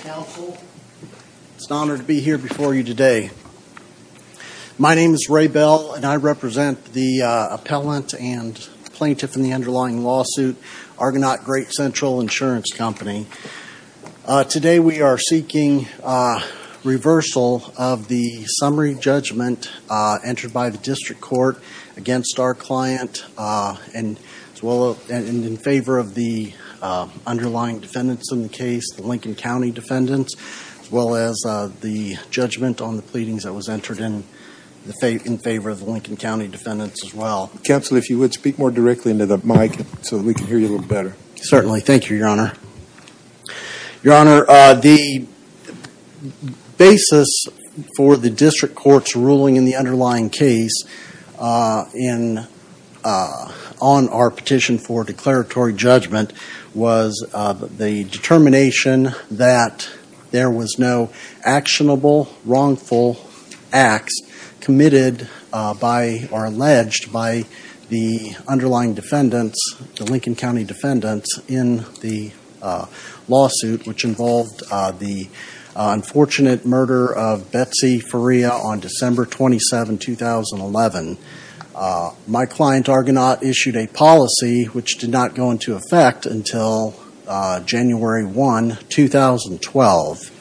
Council, it's an honor to be here before you today. My name is Ray Bell and I represent the appellant and plaintiff in the underlying lawsuit, Argonaut Great Central Insurance Company. Today we are seeking reversal of the summary judgment entered by the district court against our client and in favor of the underlying defendants in the case, the Lincoln County defendants, as well as the judgment on the pleadings that was entered in the favor of the Lincoln County defendants as well. Council, if you would speak more directly into the mic so we can hear you a little better. Certainly. Thank you, Your Honor. Your Honor, the basis for the district court's ruling in the underlying case on our determination that there was no actionable, wrongful acts committed by or alleged by the underlying defendants, the Lincoln County defendants, in the lawsuit which involved the unfortunate murder of Betsy Fariha on December 27, 2011. My client, Argonaut, issued a policy which did not go into effect until January 1, 2012.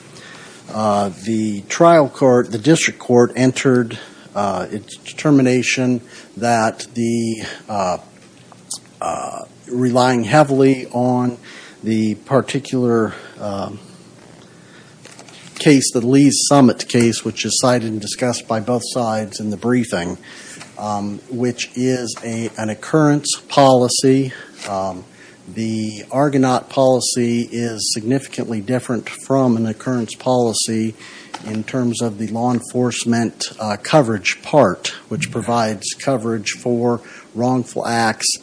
The trial court, the district court, entered its determination that the, relying heavily on the particular case, the Lee's Summit case, which is cited and discussed by both sides in the briefing, which is an occurrence policy. The Argonaut policy is significantly different from an occurrence policy in terms of the law enforcement coverage part, which provides coverage for wrongful acts,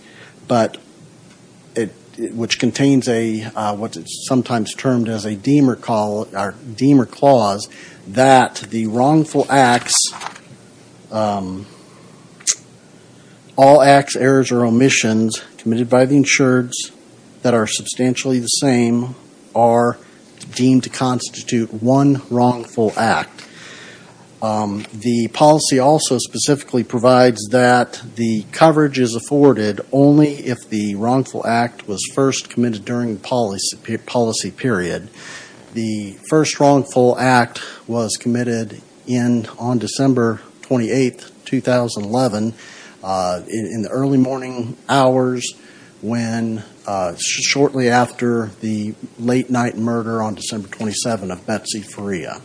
but which contains what is sometimes termed as a femur clause, that the wrongful acts, all acts, errors, or omissions committed by the insureds that are substantially the same are deemed to constitute one wrongful act. The policy also specifically provides that the coverage is afforded only if the wrongful act was first committed during the policy period. The first wrongful act was committed on December 28, 2011, in the early morning hours, shortly after the late-night murder on December 27 of Betsy Fariha.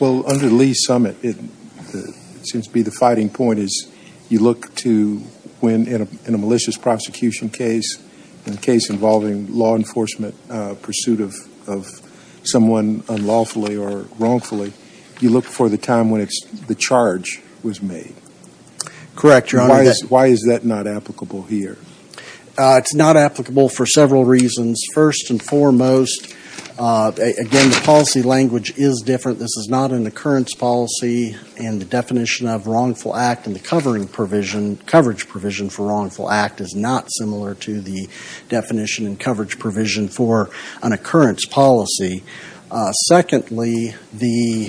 Well, under Lee's Summit, it seems to be the fighting point is you look to win in a malicious prosecution case, in a case involving law enforcement pursuit of someone unlawfully or wrongfully, you look for the time when the charge was made. Correct, Your Honor. Why is that not applicable here? It's not applicable for several reasons. First and foremost, again, the policy language is different. This is not an occurrence policy, and the definition of wrongful act in the covering provision, coverage provision for wrongful act, is not similar to the policy. Secondly, the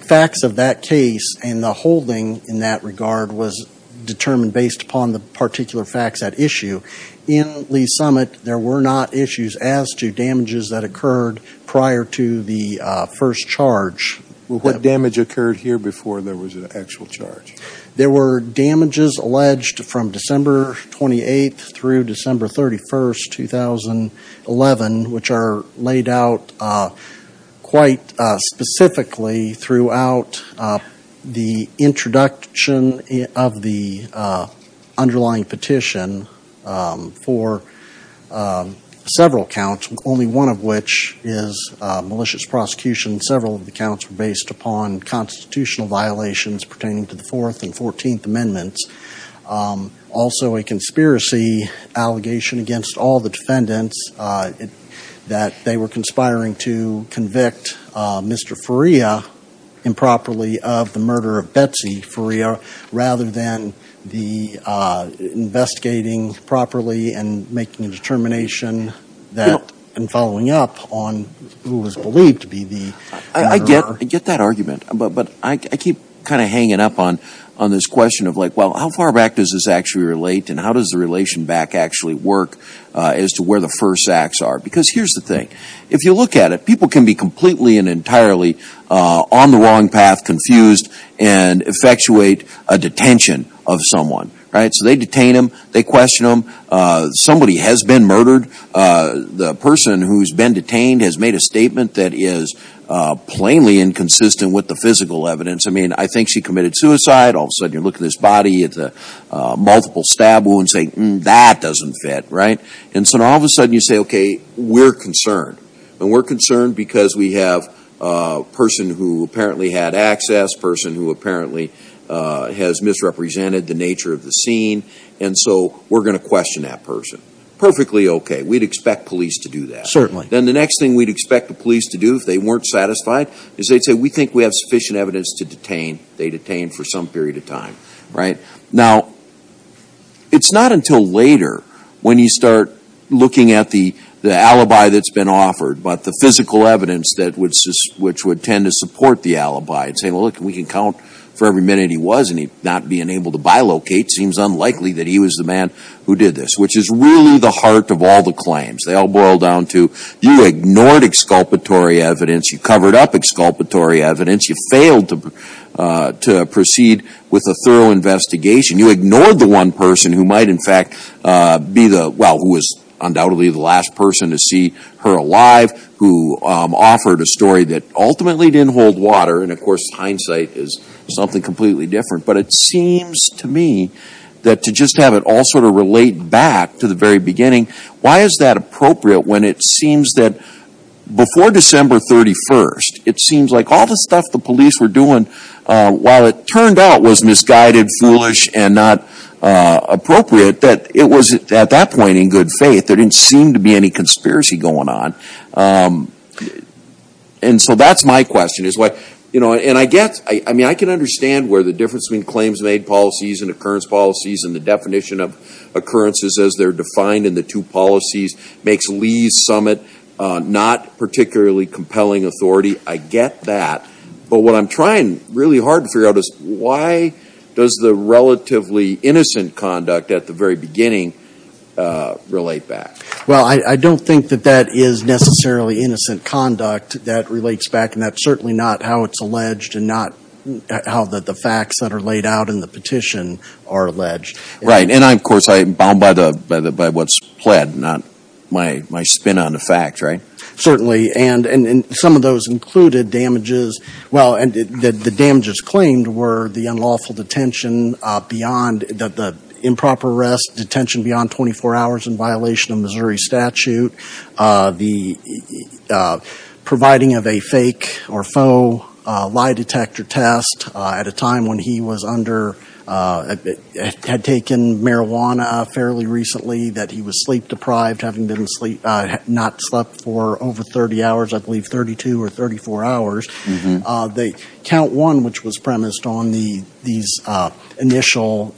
facts of that case and the holding in that regard was determined based upon the particular facts at issue. In Lee's Summit, there were not issues as to damages that occurred prior to the first charge. What damage occurred here before there was an actual charge? There were damages alleged from laid out quite specifically throughout the introduction of the underlying petition for several counts, only one of which is malicious prosecution. Several of the counts were based upon constitutional violations pertaining to the Fourth and Fourteenth Amendments. Also, a conspiracy allegation against all the were conspiring to convict Mr. Faria improperly of the murder of Betsy Faria, rather than the investigating properly and making a determination that and following up on who was believed to be the murderer. I get that argument, but I keep kind of hanging up on on this question of like, well, how far back does this actually relate and how does the relation back actually work as to where the first acts are? Because here's the thing. If you look at it, people can be completely and entirely on the wrong path, confused, and effectuate a detention of someone, right? So they detain him, they question him. Somebody has been murdered. The person who's been detained has made a statement that is plainly inconsistent with the physical evidence. I mean, I think she committed suicide. All of a sudden, you look at this body at the multiple stab wounds and say, that doesn't fit, right? And so all of a sudden you say, okay, we're concerned. And we're concerned because we have a person who apparently had access, a person who apparently has misrepresented the nature of the scene, and so we're going to question that person. Perfectly okay. We'd expect police to do that. Certainly. Then the next thing we'd expect the police to do if they weren't satisfied is they'd say, we think we have sufficient evidence to detain. They detain for some period of time, right? Now, it's not until later when you start looking at the alibi that's been offered, but the physical evidence that would, which would tend to support the alibi, and say, well, look, we can count for every minute he was and he's not being able to bilocate, seems unlikely that he was the man who did this. Which is really the heart of all the claims. They all boil down to, you ignored exculpatory evidence. You covered up exculpatory evidence. You failed to proceed with a thorough investigation. You ignored the one person who might in fact be the, well, who was undoubtedly the last person to see her alive, who offered a story that ultimately didn't hold water, and of course hindsight is something completely different, but it seems to me that to just have it all sort of relate back to the very beginning, why is that appropriate when it seems that before December 31st, it seems like all the stuff the police were doing, while it turned out was misguided, foolish, and not appropriate, that it was at that point in good faith. There didn't seem to be any conspiracy going on. And so that's my question, is what, you know, and I get, I mean, I can understand where the difference between claims made policies and occurrence policies and the definition of occurrences as they're defined in the two policies makes Lee's summit not particularly compelling authority. I get that. But what I'm trying really hard to figure out is why does the relatively innocent conduct at the very beginning relate back? Well, I don't think that that is necessarily innocent conduct that relates back, and that's certainly not how it's alleged and not how the facts that are laid out in the petition are alleged. Right. And I, of course, I'm bound by what's pled, not my spin on the fact, right? Certainly. And some of those included damages, well, and the damages claimed were the unlawful detention beyond, the improper arrest, detention beyond 24 hours in violation of Missouri statute, the providing of a fake or faux lie detector test at a time when he was under, had taken marijuana fairly recently, that he was sleep deprived, having been in sleep, not slept for over 30 hours, I believe 32 or 34 hours. The count one, which was premised on the, these initial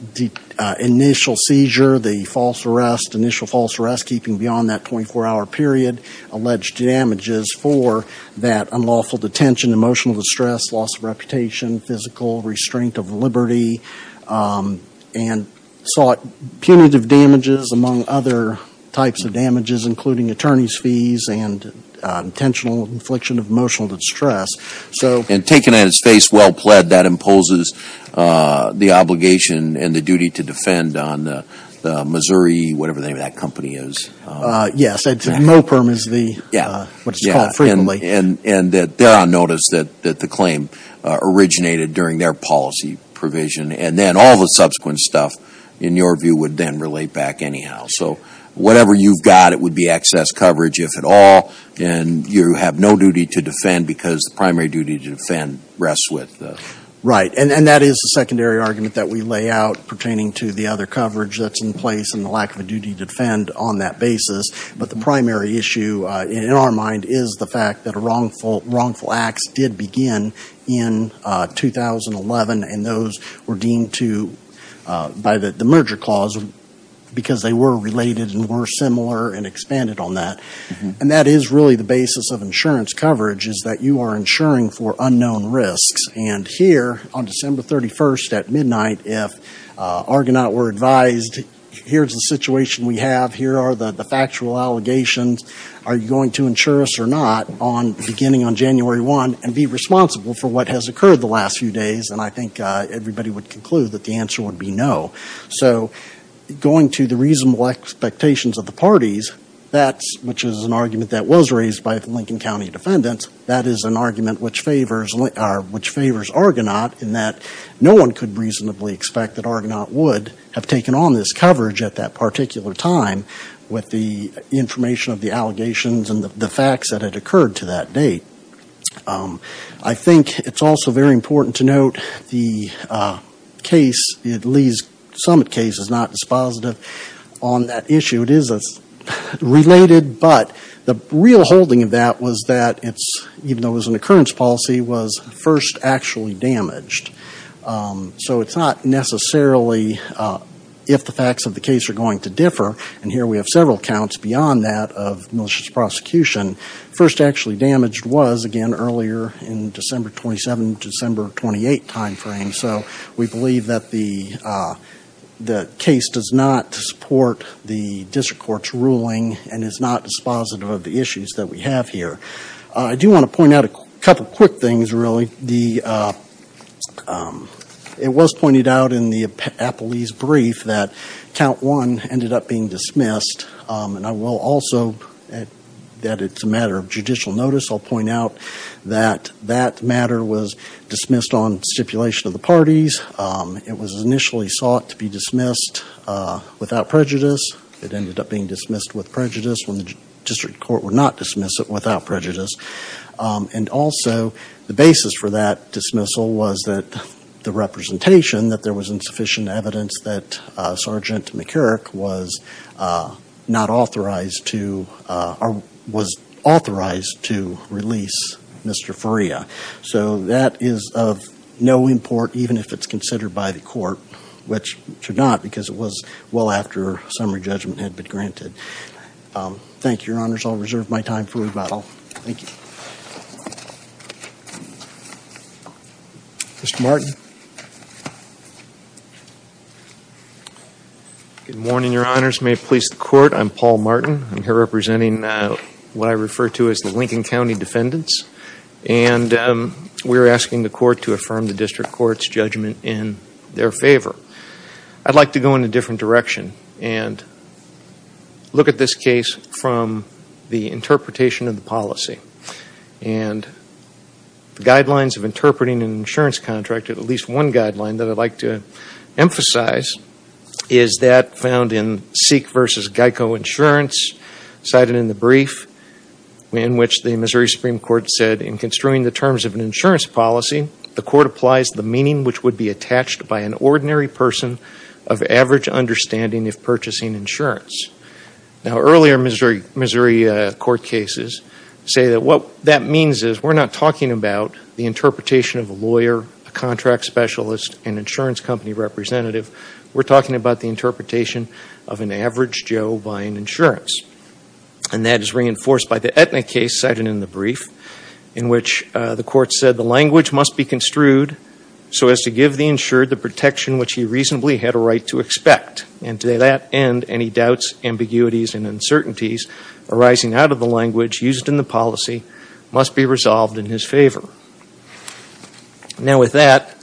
seizure, the false arrest, initial false arrest keeping beyond that 24-hour period, alleged damages for that unlawful detention, emotional distress, loss of reputation, physical restraint of liberty, and sought punitive damages among other types of damages, including attorney's fees and intentional infliction of emotional distress. So. And taken at its face, well pled, that imposes the obligation and the duty to defend on Missouri, whatever the name of that company is. Yes, MOPRM is the, what it's called frequently. And that they're on notice that the claim originated during their policy provision, and then all the subsequent stuff, in your view, would then relate back anyhow. So whatever you've got, it would be excess coverage, if at all, and you have no duty to defend because the primary duty to defend rests with the. Right. And that is the secondary argument that we lay out pertaining to the other coverage that's in place and the lack of a duty to defend on that basis. But the primary issue in our mind is the fact that a wrongful, wrongful acts did begin in 2011 and those were deemed to, by the merger clause, because they were related and were similar and expanded on that. And that is really the basis of insurance coverage is that you are insuring for unknown risks. And here, on December 31st at midnight, if Argonaut were advised, here's the situation we have, here are the factual allegations, are you going to insure us or not, beginning on January 1, and be responsible for what has occurred the last few days, and I think everybody would conclude that the answer would be no. So going to the reasonable expectations of the parties, that's, which is an argument that was raised by Lincoln County defendants, that is an argument which favors Argonaut in that no one could reasonably expect that Argonaut would have taken on this coverage at that particular time with the information of the allegations and the facts that had occurred to that date. I think it's also very important to note the case, Lee's summit case is not dispositive on that issue. It is related, but the real holding of that was that it's, even though it was an occurrence policy, was first actually damaged. So it's not necessarily if the facts of the case are going to differ, and here we have several accounts beyond that of malicious prosecution. First actually damaged was, again, earlier in December 27, December 28 timeframe, so we believe that the case does not support the district court's ruling and is not dispositive of the issues that we have here. I do want to point out a couple of quick things, really. It was pointed out in the Appellee's Account 1, ended up being dismissed, and I will also, that it's a matter of judicial notice, I'll point out that that matter was dismissed on stipulation of the parties. It was initially sought to be dismissed without prejudice. It ended up being dismissed with prejudice when the district court would not dismiss it without prejudice. And also, the basis for that dismissal was that the representation that there was insufficient evidence that Sergeant McCurrick was not authorized to, or was authorized to release Mr. Faria. So that is of no import, even if it's considered by the court, which it should not because it was well after summary judgment had been granted. Thank you, Your Honors. I'll reserve my time for rebuttal. Thank you. Mr. Martin. Good morning, Your Honors. May it please the Court, I'm Paul Martin. I'm here representing what I refer to as the Lincoln County Defendants, and we're asking the Court to affirm the district court's judgment in their favor. I'd like to go in a different direction and look at this case from the interpretation of the policy. And the guidelines of interpreting an insurance contract, at least one guideline that I'd like to emphasize, is that found in Seek v. Geico Insurance, cited in the brief in which the Missouri Supreme Court said, in construing the terms of an insurance policy, the Court applies the meaning which would be attached by an ordinary person of average understanding of purchasing insurance. Now, earlier Missouri court cases say that what that means is we're not talking about the interpretation of a lawyer, a contract specialist, an insurance company representative. We're talking about the interpretation of an average Joe buying insurance. And that is reinforced by the Aetna case cited in the brief in which the Court said the language must be construed so as to give the insured the protection which he reasonably had a right to expect. And to that end, any doubts, ambiguities, and uncertainties arising out of the language used in the policy must be resolved in his favor. Now, with that,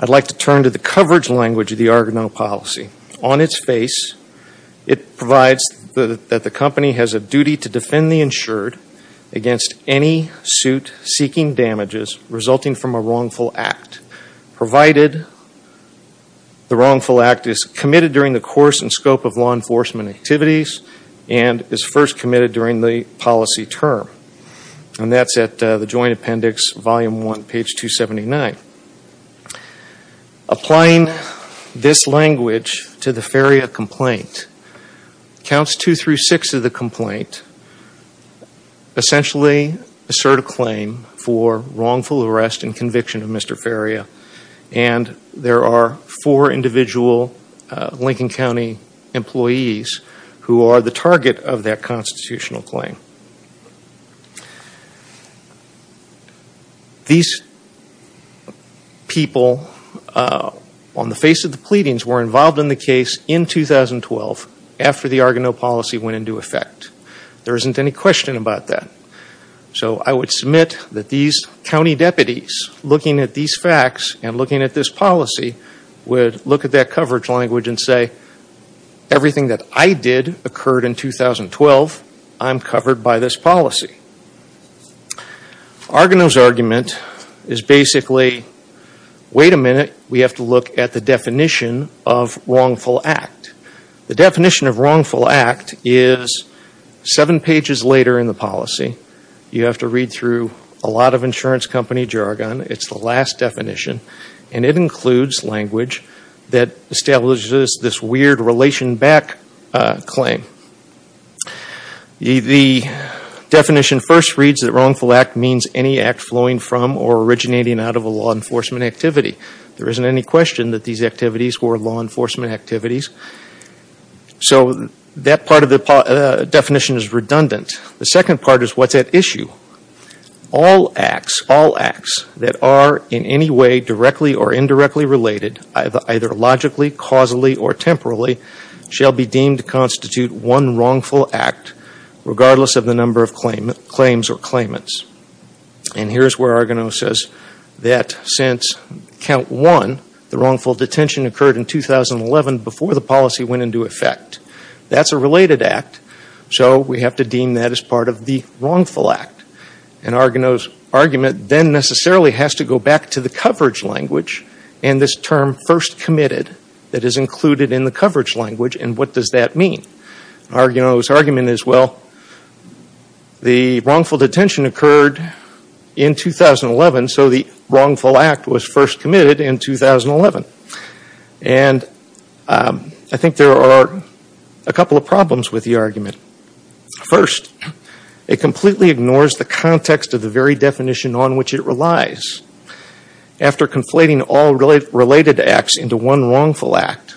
I'd like to turn to the coverage language of the Argonaut policy. On its face, it provides that the company has a duty to provide protection provided the wrongful act is committed during the course and scope of law enforcement activities and is first committed during the policy term. And that's at the joint appendix, volume one, page 279. Applying this language to the Faria complaint, counts two through six of the complaint essentially assert a claim for wrongful arrest and conviction of Mr. Faria. And there are four individual Lincoln County employees who are the target of that constitutional claim. These people on the face of the pleadings were involved in the case in 2012 after the Argonaut policy went into effect. There isn't any question about that. So I would submit that these county deputies looking at these facts and looking at this policy would look at that coverage language and say, everything that I did occurred in 2012. I'm covered by this policy. Argonaut's argument is basically, wait a minute, we have to look at the definition of wrongful act. The definition of wrongful act is seven pages later in the policy. You have to read through a lot of insurance company jargon. It's the last definition. And it includes language that establishes this weird relation back claim. The definition first reads that wrongful act means any act flowing from or originating out of a law enforcement activity. There isn't any question that these activities were law enforcement activities. So that part of the definition is redundant. The second part is what's at issue. All acts that are in any way directly or indirectly related either logically, causally or temporally shall be deemed to constitute one wrongful act regardless of the number of claims or claimants. And here's where Argonaut says that since count one, the wrongful detention occurred in 2011 before the policy went into effect. That's a related act. So we have to deem that as part of the wrongful act. And Argonaut's argument then necessarily has to go back to the coverage language and this term first committed that is included in the coverage language. And what does that mean? Argonaut's argument is, well, the wrongful detention occurred in 2011, so the wrongful act was first committed in 2011. And I think there are a couple of problems with the argument. First, it completely ignores the context of the very definition on which it relies. After conflating all related acts into one wrongful act,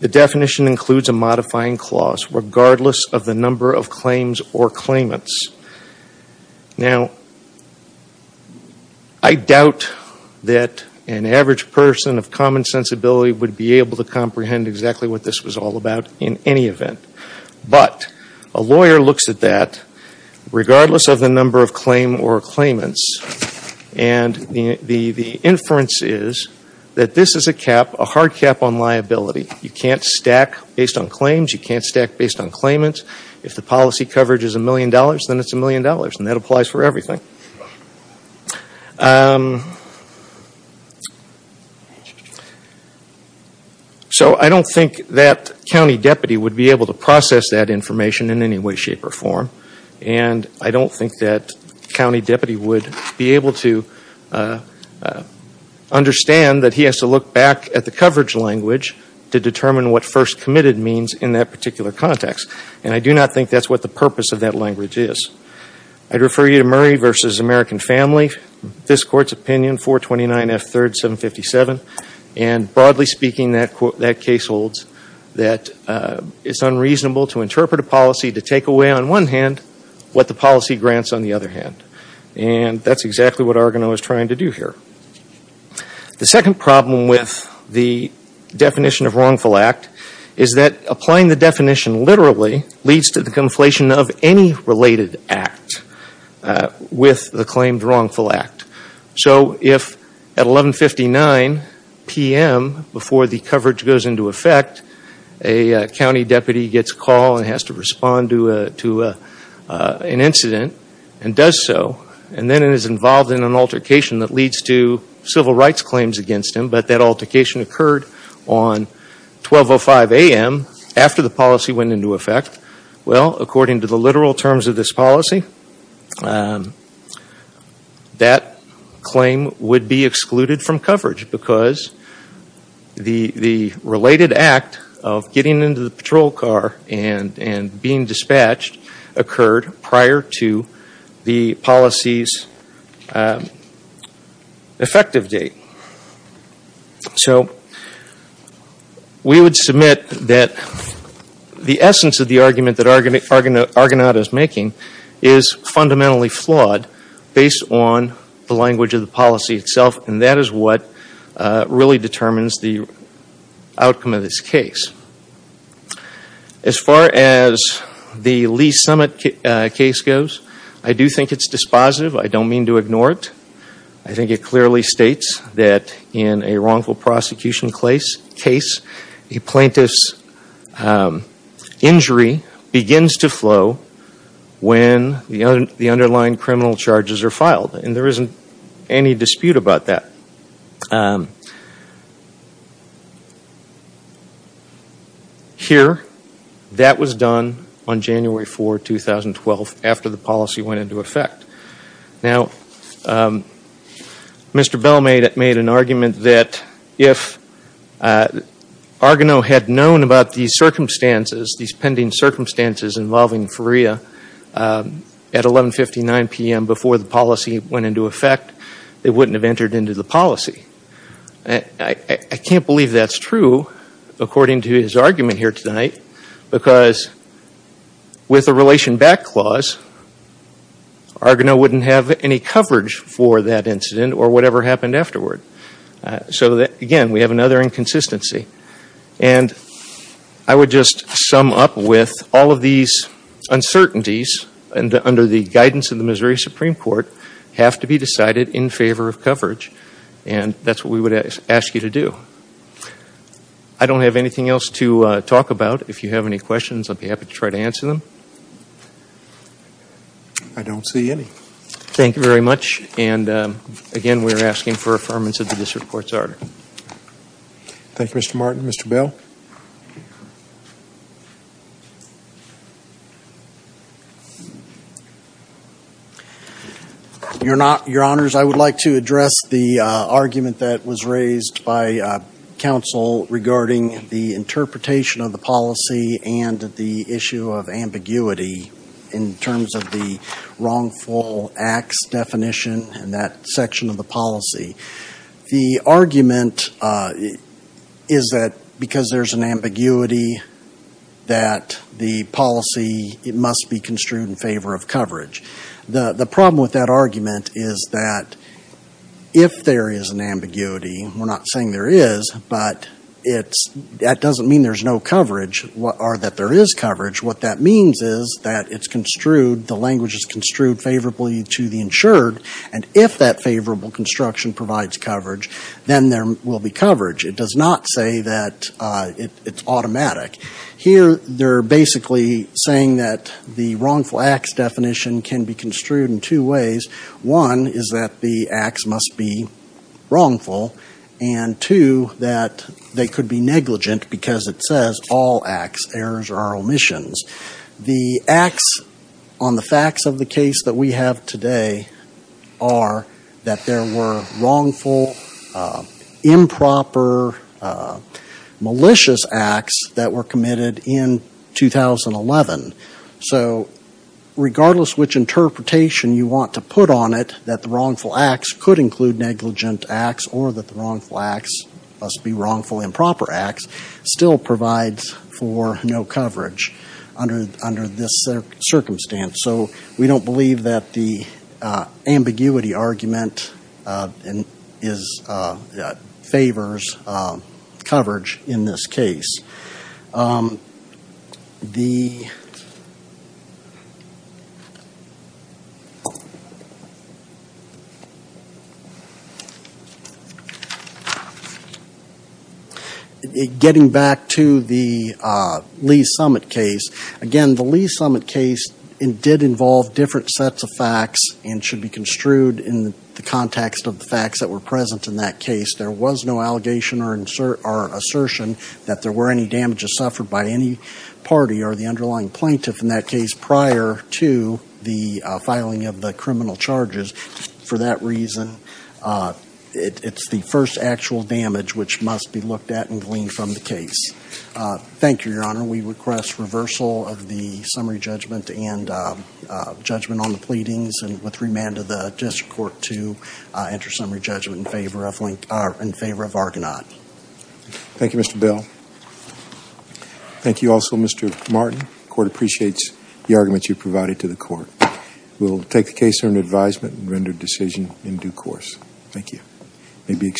the definition includes a modifying clause, regardless of the number of claims or claimants. Now I doubt that an average person of common sensibility would be able to comprehend exactly what this was all about in any event. But a lawyer looks at that regardless of the number of claim or claimants and the inference is that this is a cap, a hard cap on liability. You can't stack based on claims. You can't stack based on claimants. If the policy coverage is a million dollars, then it's a million dollars and that applies for everything. So I don't think that county deputy would be able to process that information in any way, shape or form. And I don't think that county deputy would be able to understand that he has to look back at the coverage language to determine what first committed means in that particular context. And I do not think that's what the purpose of that language is. I'd refer you to Murray v. American Family, this Court's opinion, 429 F. 3rd, 757. And take away on one hand what the policy grants on the other hand. And that's exactly what Argonaut is trying to do here. The second problem with the definition of wrongful act is that applying the definition literally leads to the conflation of any related act with the claimed wrongful act. So if at 11.59 p.m. before the coverage goes into effect, a county deputy gets a call and has to respond to an incident and does so, and then is involved in an altercation that leads to civil rights claims against him, but that altercation occurred on 12.05 a.m. after the policy went into effect, well according to the literal terms of this policy, that claim would be excluded from coverage because the related act of getting into the patrol car and being disciplined and dispatched occurred prior to the policy's effective date. So we would submit that the essence of the argument that Argonaut is making is fundamentally flawed based on the language of the policy itself. And that is what really determines the outcome of this case. As far as the Lee Summit case goes, I do think it's dispositive. I don't mean to ignore it. I think it clearly states that in a wrongful prosecution case, a plaintiff's injury begins to flow when the underlying criminal charges are filed. And there isn't any dispute about that. Here, that was done on January 4, 2012, after the policy went into effect. Now, Mr. Bell made an argument that if Argonaut had known about these circumstances, these pending circumstances involving Freya, at 11.59 p.m. before the policy went into effect, they wouldn't have entered into the policy. I can't believe that's true according to his argument here tonight because with a relation back clause, Argonaut wouldn't have any coverage for that incident or whatever happened afterward. So again, we have another inconsistency. And I would just sum up with all of these uncertainties under the guidance of the Missouri Supreme Court have to be decided in favor of coverage. And that's what we would ask you to do. I don't have anything else to talk about. If you have any questions, I'd be happy to try to answer them. I don't see any. Thank you very much. And again, we're asking for affirmance of the district court's order. Thank you, Mr. Martin. Mr. Bell? Your Honors, I would like to address the argument that was raised by counsel regarding the interpretation of the policy and the issue of ambiguity in terms of the wrongful acts definition in that argument is that because there's an ambiguity that the policy must be construed in favor of coverage. The problem with that argument is that if there is an ambiguity, we're not saying there is, but that doesn't mean there's no coverage or that there is coverage. What that means is that it's construed, the language is construed favorably to the insured. And if that favorable construction provides coverage, then there will be coverage. It does not say that it's automatic. Here they're basically saying that the wrongful acts definition can be construed in two ways. One is that the acts must be wrongful. And two, that they could be negligent because it says all acts, errors or omissions. The acts on the facts of the case that we have today are that there were wrongful, improper, malicious acts that were committed in 2011. So regardless which interpretation you want to put on it, that the wrongful acts could include negligent acts or that the wrongful acts must be wrongful improper acts, still provides for no coverage under this circumstance. So we don't believe that the ambiguity argument favors coverage in this case. Getting back to the Lee's Summit case, again, the Lee's Summit case did involve different sets of facts and should be construed in the context of the facts that were present in that case. There was no allegation or assertion that there were any damages suffered by any party or the underlying plaintiff in that case prior to the filing of the criminal charges. For that reason, it's the first actual damage which must be looked at and gleaned from the case. Thank you, Your Honor. We request reversal of the summary judgment and judgment on the plaintiff in favor of Argonaut. Thank you, Mr. Bell. Thank you also, Mr. Martin. The Court appreciates the arguments you provided to the Court. We will take the case under advisement and render a decision in due course. Thank you.